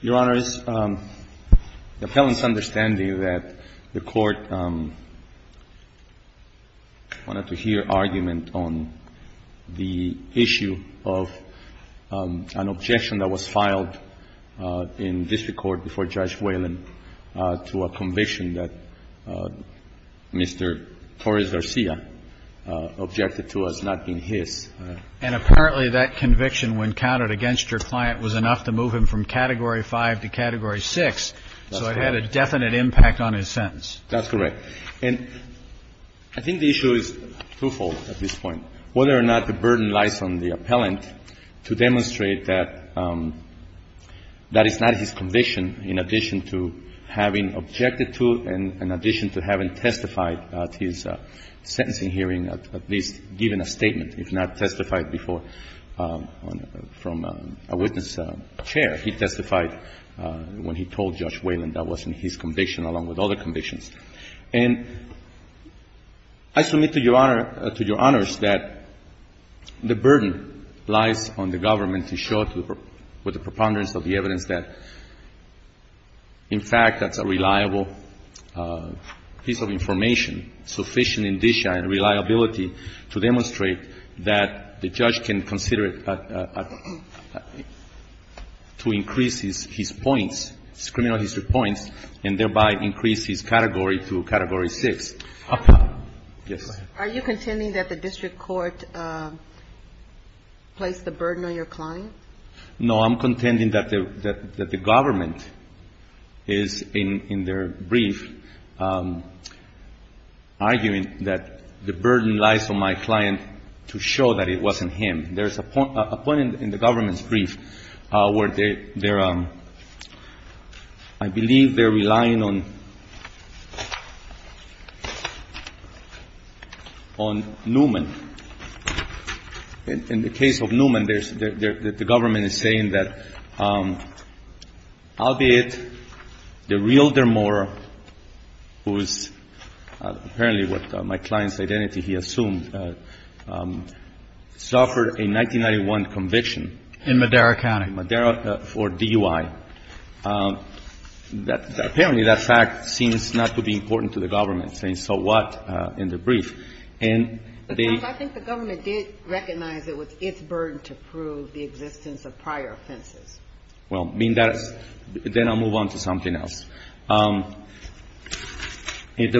Your Honor, it is the pleasure of the Court of Appeals to hear argument on the issue of an objection that was filed in district court before Judge Whalen to a conviction that Mr. Torres-Garcia objected to as not being his. And apparently that conviction, when counted against your client, was enough to move him from Category 5 to Category 6, so it had a definite impact on his sentence. That's correct. And I think the issue is twofold at this point. Whether or not the burden lies on the appellant to demonstrate that that is not his conviction, in addition to having objected to and in addition to having testified at his sentencing hearing, at least given a statement, if not testified before from a witness chair. He testified when he told Judge Whalen that wasn't his conviction, along with other convictions. And I submit to Your Honor, to Your Honors, that the burden lies on the government to show with the preponderance of the evidence that, in fact, that's a reliable piece of information, sufficient indicia and reliability to demonstrate that the judge can consider it to increase his points, his criminal history points, and thereby increase his category to Category 6. Yes. Are you contending that the district court placed the burden on your client? No. I'm contending that the government is, in their brief, arguing that the burden lies on my client to show that it wasn't him. There's a point in the government's brief where they're ‑‑ I believe they're arguing that the burden lies on Newman. In the case of Newman, there's ‑‑ the government is saying that albeit the real Dermore, who is apparently what my client's identity, he assumed, suffered a 1991 conviction. In Madera County. In Madera for DUI. Apparently, that fact seems not to be important to the government, saying so what in the brief. And they ‑‑ I think the government did recognize it was its burden to prove the existence of prior offenses. Well, I mean, that's ‑‑ then I'll move on to something else. The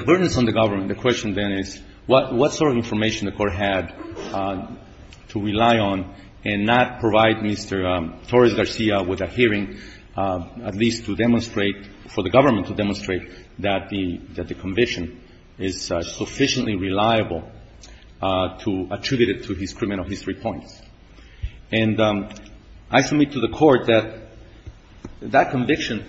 burden is on the government. The question then is what sort of information the court had to rely on and not provide to the government. And I think the court had to rely on the fact that Mr. Torres-Garcia was adhering at least to demonstrate, for the government to demonstrate, that the conviction is sufficiently reliable to attribute it to his criminal history points. And I submit to the court that that conviction,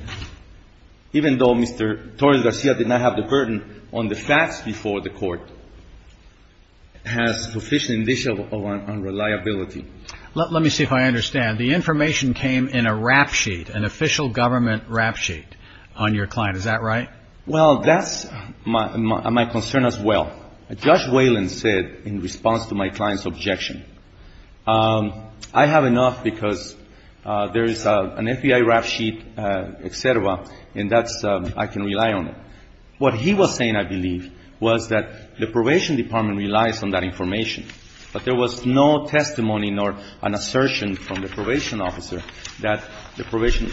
even though Mr. Torres-Garcia did not have the burden on the facts before the court, has sufficient indicia of reliability. Let me see if I understand. The information came in a rap sheet, an official government rap sheet on your client. Is that right? Well, that's my concern as well. Judge Wayland said in response to my client's objection, I have enough because there is an FBI rap sheet, et cetera, and that's ‑‑ I can rely on it. What he was saying, I believe, was that the probation department relies on that information. But there was no testimony nor an assertion from the probation officer that the probation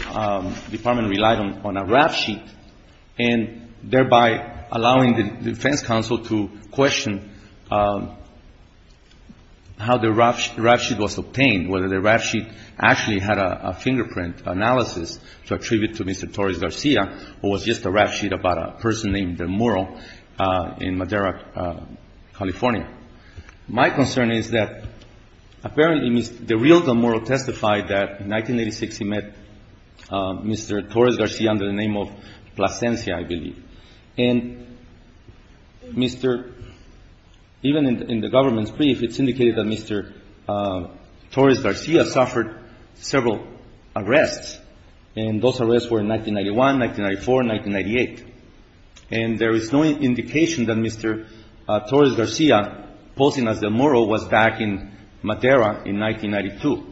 department relied on a rap sheet, and thereby allowing the defense counsel to question how the rap sheet was obtained, whether the rap sheet actually had a fingerprint analysis to attribute to Mr. Torres-Garcia, or was just a rap sheet about a person named Demuro in Madera, California. My concern is that apparently the real Demuro testified that in 1986 he met Mr. Torres-Garcia under the name of Plasencia, I believe. And Mr. ‑‑ even in the government's brief, it's indicated that Mr. Torres-Garcia suffered several arrests, and those arrests were in 1991, 1994, 1998. And there is no indication that Mr. Torres-Garcia, posing as Demuro, was back in Madera in 1992.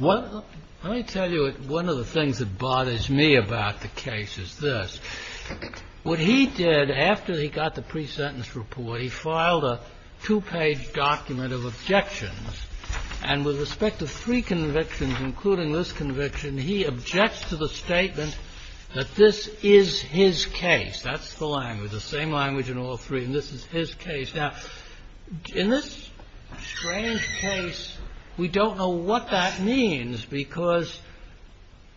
Let me tell you one of the things that bothers me about the case is this. What he did after he got the pre-sentence report, he filed a two-page document of objections, and with respect to three convictions, including this conviction, he objects to the statement that this is his case. That's the language, the same language in all three, and this is his case. Now, in this strange case, we don't know what that means, because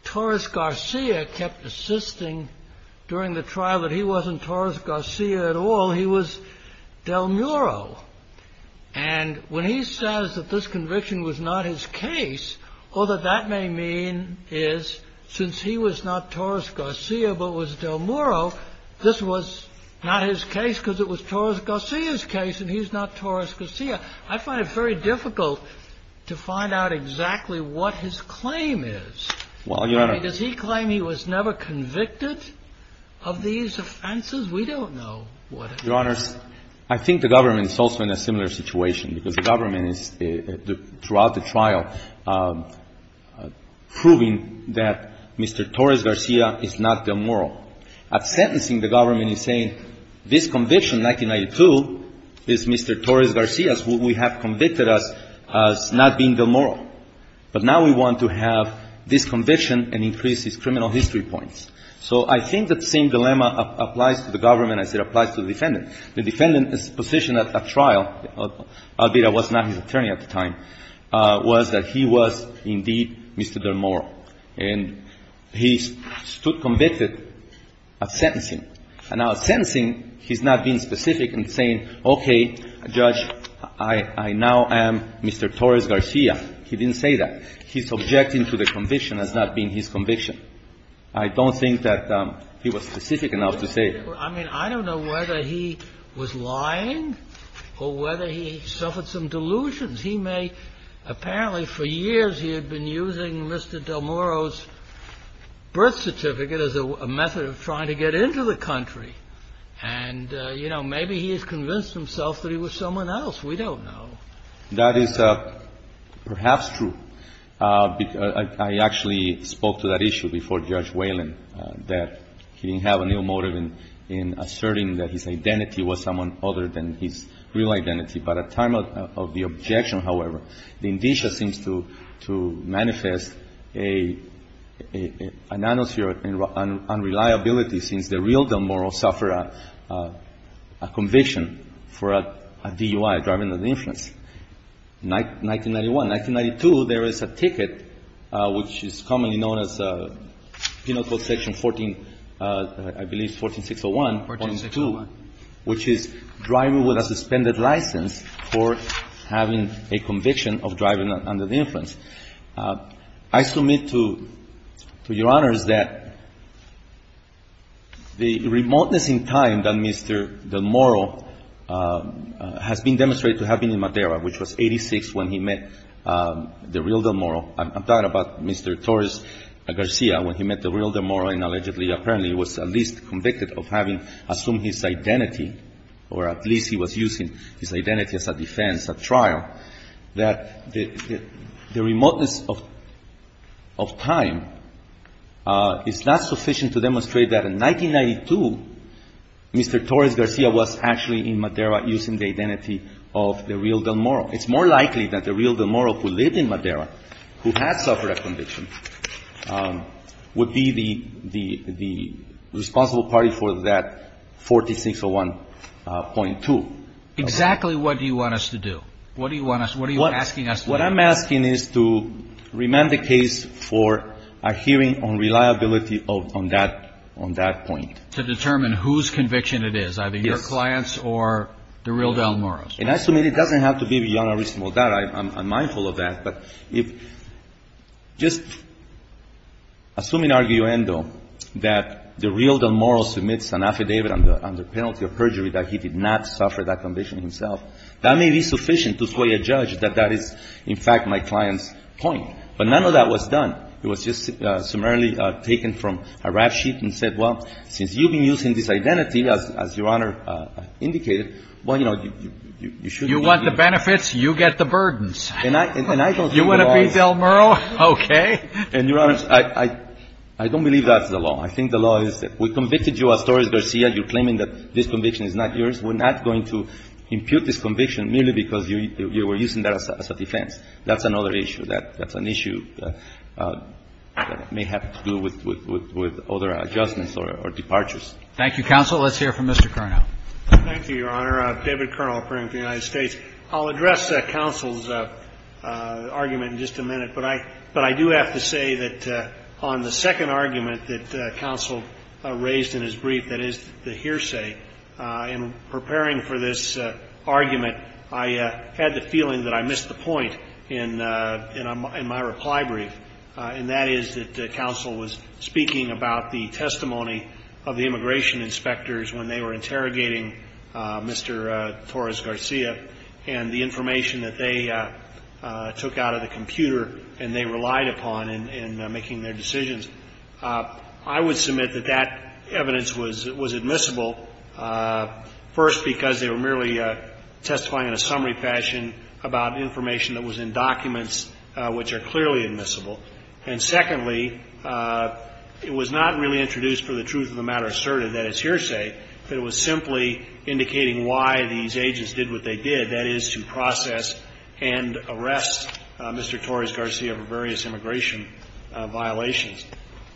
Torres-Garcia kept insisting during the trial that he wasn't Torres-Garcia at all, he was Demuro. And when he says that this conviction was not his case, all that that may mean is since he was not Torres-Garcia but was Demuro, this was not his case because it was Torres-Garcia's case and he's not Torres-Garcia. I find it very difficult to find out exactly what his claim is. Does he claim he was never convicted of these offenses? We don't know what it is. Your Honors, I think the government is also in a similar situation, because the government is, throughout the trial, proving that Mr. Torres-Garcia is not Demuro. At sentencing, the government is saying this conviction, 1992, is Mr. Torres-Garcia's. We have convicted us as not being Demuro. But now we want to have this conviction and increase his criminal history points. So I think that same dilemma applies to the government as it applies to the defendant. The defendant's position at that trial, albeit I was not his attorney at the time, was that he was indeed Mr. Demuro. And he stood convicted at sentencing. And now at sentencing, he's not being specific and saying, okay, Judge, I now am Mr. Torres-Garcia. He didn't say that. He's objecting to the conviction as not being his conviction. I don't think that he was specific enough to say it. I mean, I don't know whether he was lying or whether he suffered some delusions. He may apparently, for years, he had been using Mr. Demuro's birth certificate as a method of trying to get into the country. And, you know, maybe he has convinced himself that he was someone else. We don't know. That is perhaps true. I actually spoke to that issue before Judge Whalen, that he didn't have any motive in asserting that his identity was someone other than his real identity. But at time of the objection, however, the indicia seems to manifest a nanosphere of unreliability since the real Demuro suffered a conviction for a DUI, driving under the influence, 1991. 1992, there is a ticket which is commonly known as Penal Code Section 14, I believe it's 14601. 14601. Which is driving with a suspended license for having a conviction of driving under the influence. I submit to Your Honors that the remoteness in time that Mr. Demuro has been demonstrated to have been in Madeira, which was 86 when he met the real Demuro. I'm talking about Mr. Torres Garcia when he met the real Demuro and allegedly, apparently, was at least convicted of having assumed his identity or at least he was using his identity as a defense, a trial, that the remoteness of time is not sufficient to demonstrate that in 1992, Mr. Torres Garcia was actually in Madeira using the identity of the real Demuro. It's more likely that the real Demuro who lived in Madeira, who had suffered a conviction, would be the responsible party for that 4601.2. Exactly what do you want us to do? What do you want us, what are you asking us to do? What I'm asking is to remand the case for a hearing on reliability on that point. To determine whose conviction it is. Yes. Either the client's or the real Demuro's. And I submit it doesn't have to be beyond a reasonable doubt. I'm mindful of that. But if just assuming arguendo that the real Demuro submits an affidavit under penalty of perjury that he did not suffer that conviction himself, that may be sufficient to sway a judge that that is, in fact, my client's point. But none of that was done. It was just summarily taken from a rap sheet and said, well, since you've been using this identity, as Your Honor indicated, well, you know, you should be. You want the benefits, you get the burdens. And I don't think the law is. You want to be Demuro? Okay. And, Your Honor, I don't believe that's the law. I think the law is that we convicted you as Torres Garcia. You're claiming that this conviction is not yours. We're not going to impute this conviction merely because you were using that as a defense. That's another issue. That's an issue that may have to do with other adjustments or departures. Thank you, counsel. Let's hear from Mr. Cerno. Thank you, Your Honor. David Cerno, operating for the United States. I'll address counsel's argument in just a minute, but I do have to say that on the second argument that counsel raised in his brief, that is the hearsay, in preparing for this argument, I had the feeling that I missed the point in my reply brief, and that is that the testimony of the immigration inspectors when they were interrogating Mr. Torres Garcia and the information that they took out of the computer and they relied upon in making their decisions, I would submit that that evidence was admissible, first because they were merely testifying in a summary fashion about information that was in documents which are clearly admissible. And secondly, it was not really introduced for the truth of the matter asserted that it's hearsay, but it was simply indicating why these agents did what they did, that is to process and arrest Mr. Torres Garcia for various immigration violations.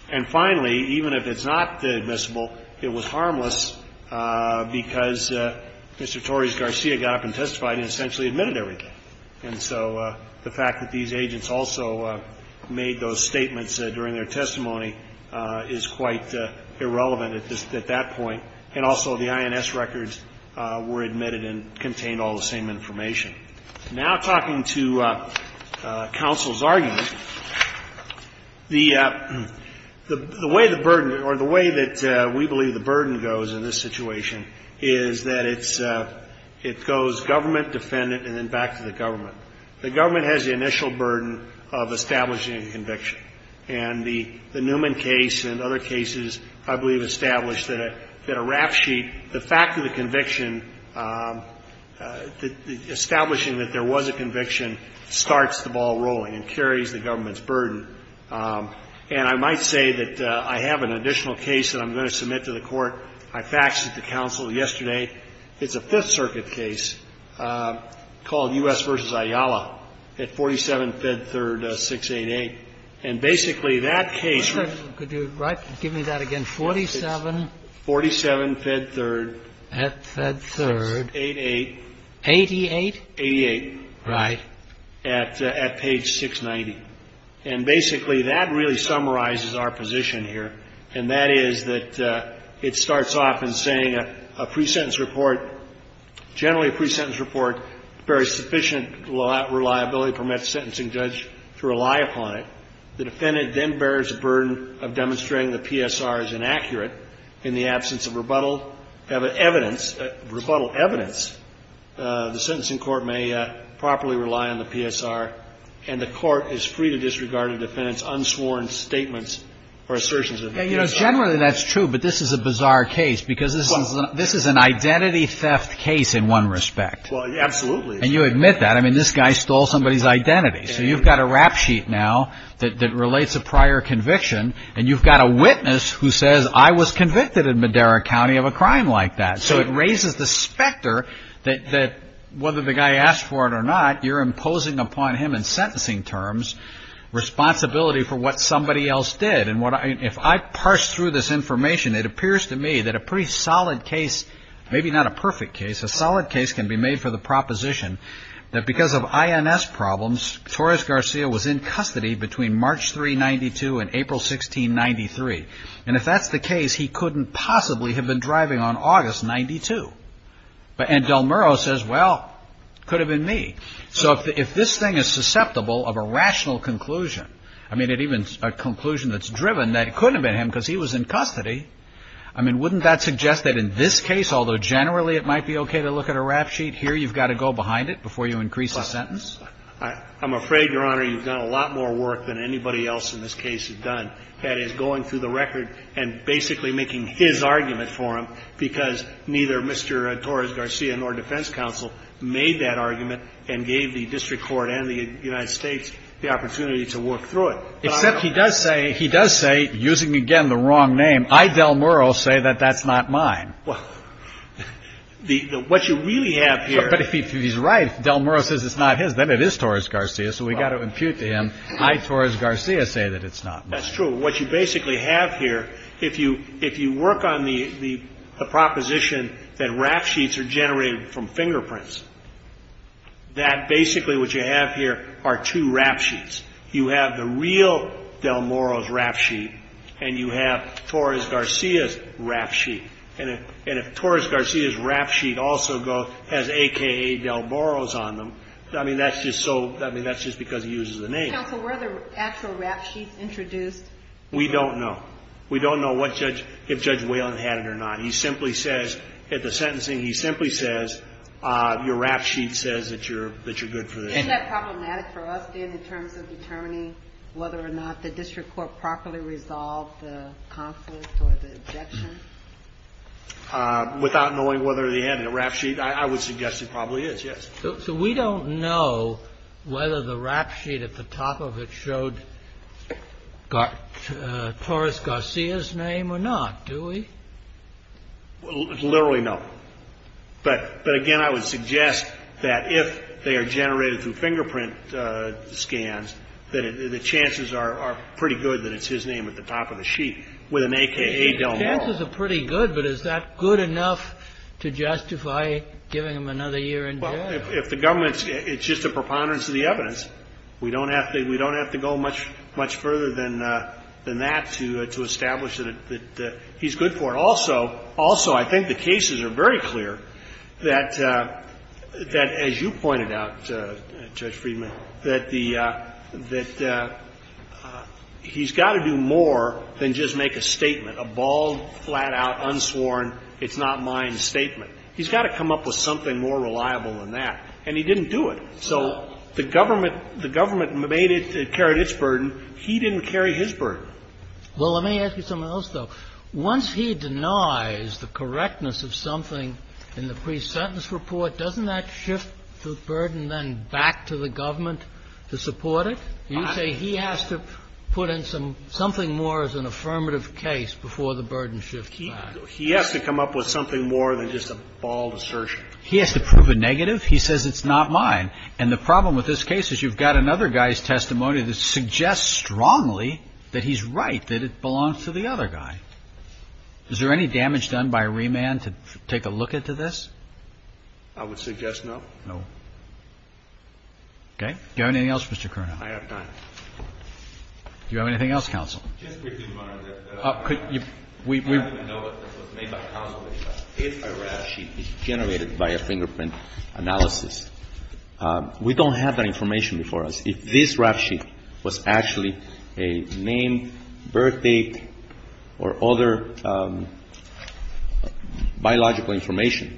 And finally, even if it's not admissible, it was harmless because Mr. Torres Garcia got up and testified and essentially admitted everything. And so the fact that these agents also made those statements during their testimony is quite irrelevant at that point, and also the INS records were admitted and contained all the same information. Now talking to counsel's argument, the way the burden, or the way that we believe the burden goes in this situation is that it's, it goes government, defendant, and then back to the government. The government has the initial burden of establishing a conviction. And the Newman case and other cases, I believe, established that a rap sheet, the fact of the conviction, establishing that there was a conviction starts the ball rolling and carries the government's burden. And I might say that I have an additional case that I'm going to submit to the Court. I faxed it to counsel yesterday. It's a Fifth Circuit case. It's called U.S. v. Ayala at 47 Fed 3rd, 688. And basically, that case was 47 Fed 3rd, 688. 88? 88. Right. At page 690. And basically that really summarizes our position here, and that is that it starts off in saying a pre-sentence report, generally a pre-sentence report bears sufficient reliability, permits the sentencing judge to rely upon it. The defendant then bears the burden of demonstrating the PSR is inaccurate. In the absence of rebuttal evidence, the sentencing court may properly rely on the PSR, and the court is free to disregard a defendant's unsworn statements or assertions of the PSR. Generally that's true, but this is a bizarre case because this is an identity theft case in one respect. Absolutely. And you admit that. I mean, this guy stole somebody's identity. So you've got a rap sheet now that relates a prior conviction, and you've got a witness who says, I was convicted in Madera County of a crime like that. So it raises the specter that whether the guy asked for it or not, you're imposing upon him in sentencing terms responsibility for what somebody else did. And if I parse through this information, it appears to me that a pretty solid case, maybe not a perfect case, a solid case can be made for the proposition that because of INS problems, Torres Garcia was in custody between March 392 and April 1693. And if that's the case, he couldn't possibly have been driving on August 92. And Del Murro says, well, could have been me. So if this thing is susceptible of a rational conclusion, I mean, even a conclusion that's driven, that couldn't have been him because he was in custody. I mean, wouldn't that suggest that in this case, although generally it might be okay to look at a rap sheet, here you've got to go behind it before you increase a sentence? I'm afraid, Your Honor, you've done a lot more work than anybody else in this case has done. That is, going through the record and basically making his argument for him, because neither Mr. Torres Garcia nor defense counsel made that argument and gave the district court and the United States the opportunity to work through it. Except he does say, he does say, using again the wrong name, I, Del Murro, say that that's not mine. Well, what you really have here. But if he's right, Del Murro says it's not his, then it is Torres Garcia. So we've got to impute to him, I, Torres Garcia, say that it's not mine. That's true. What you basically have here, if you work on the proposition that rap sheets are generated from fingerprints, that basically what you have here are two rap sheets. You have the real Del Murro's rap sheet and you have Torres Garcia's rap sheet. And if Torres Garcia's rap sheet also has AKA Del Murro's on them, I mean, that's just so, I mean, that's just because he uses the name. Counsel, were there actual rap sheets introduced? We don't know. We don't know what judge, if Judge Whalen had it or not. He simply says at the sentencing, he simply says, your rap sheet says that you're good for the job. Isn't that problematic for us, Dan, in terms of determining whether or not the district court properly resolved the conflict or the objection? Without knowing whether they had a rap sheet, I would suggest it probably is, yes. So we don't know whether the rap sheet at the top of it showed Torres Garcia's name or not, do we? Literally, no. But, again, I would suggest that if they are generated through fingerprint scans, that the chances are pretty good that it's his name at the top of the sheet with an AKA Del Murro. The chances are pretty good, but is that good enough to justify giving him another year in jail? Well, if the government's, it's just a preponderance of the evidence. We don't have to go much further than that to establish that he's good for it. But also, also, I think the cases are very clear that, as you pointed out, Judge Friedman, that the, that he's got to do more than just make a statement, a bald, flat-out, unsworn, it's not mine statement. He's got to come up with something more reliable than that. And he didn't do it. So the government, the government made it, carried its burden. He didn't carry his burden. Well, let me ask you something else, though. Once he denies the correctness of something in the pre-sentence report, doesn't that shift the burden then back to the government to support it? You say he has to put in some, something more as an affirmative case before the burden shifts back. He has to come up with something more than just a bald assertion. He has to prove a negative. He says it's not mine. And the problem with this case is you've got another guy's testimony that suggests strongly that he's right, that it belongs to the other guy. Is there any damage done by remand to take a look into this? I would suggest no. No. Okay. Do you have anything else, Mr. Curnow? I have time. Do you have anything else, counsel? Just briefly, Your Honor, that I don't even know if this was made by counsel. If a rap sheet is generated by a fingerprint analysis, we don't have that information before us. If this rap sheet was actually a name, birthdate, or other biological information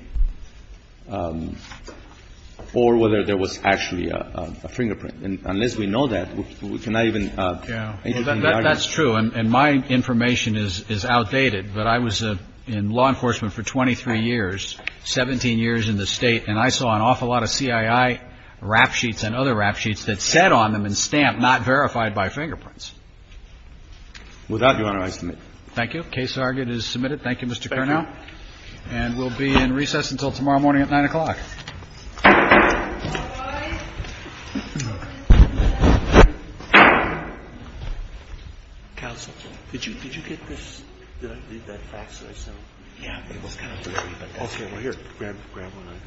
or whether there was actually a fingerprint. And unless we know that, we cannot even answer the argument. That's true. And my information is outdated. But I was in law enforcement for 23 years, 17 years in the State, and I saw an awful lot of CII rap sheets and other rap sheets that said on them in stamp not verified by fingerprints. With that, Your Honor, I submit. Thank you. Case argued is submitted. Thank you, Mr. Curnow. Thank you. And we'll be in recess until tomorrow morning at 9 o'clock. Counsel, did you get this? Did I read that fast? Did I sound? It was kind of blurry, but that's okay. Okay. Well, here. Grab one.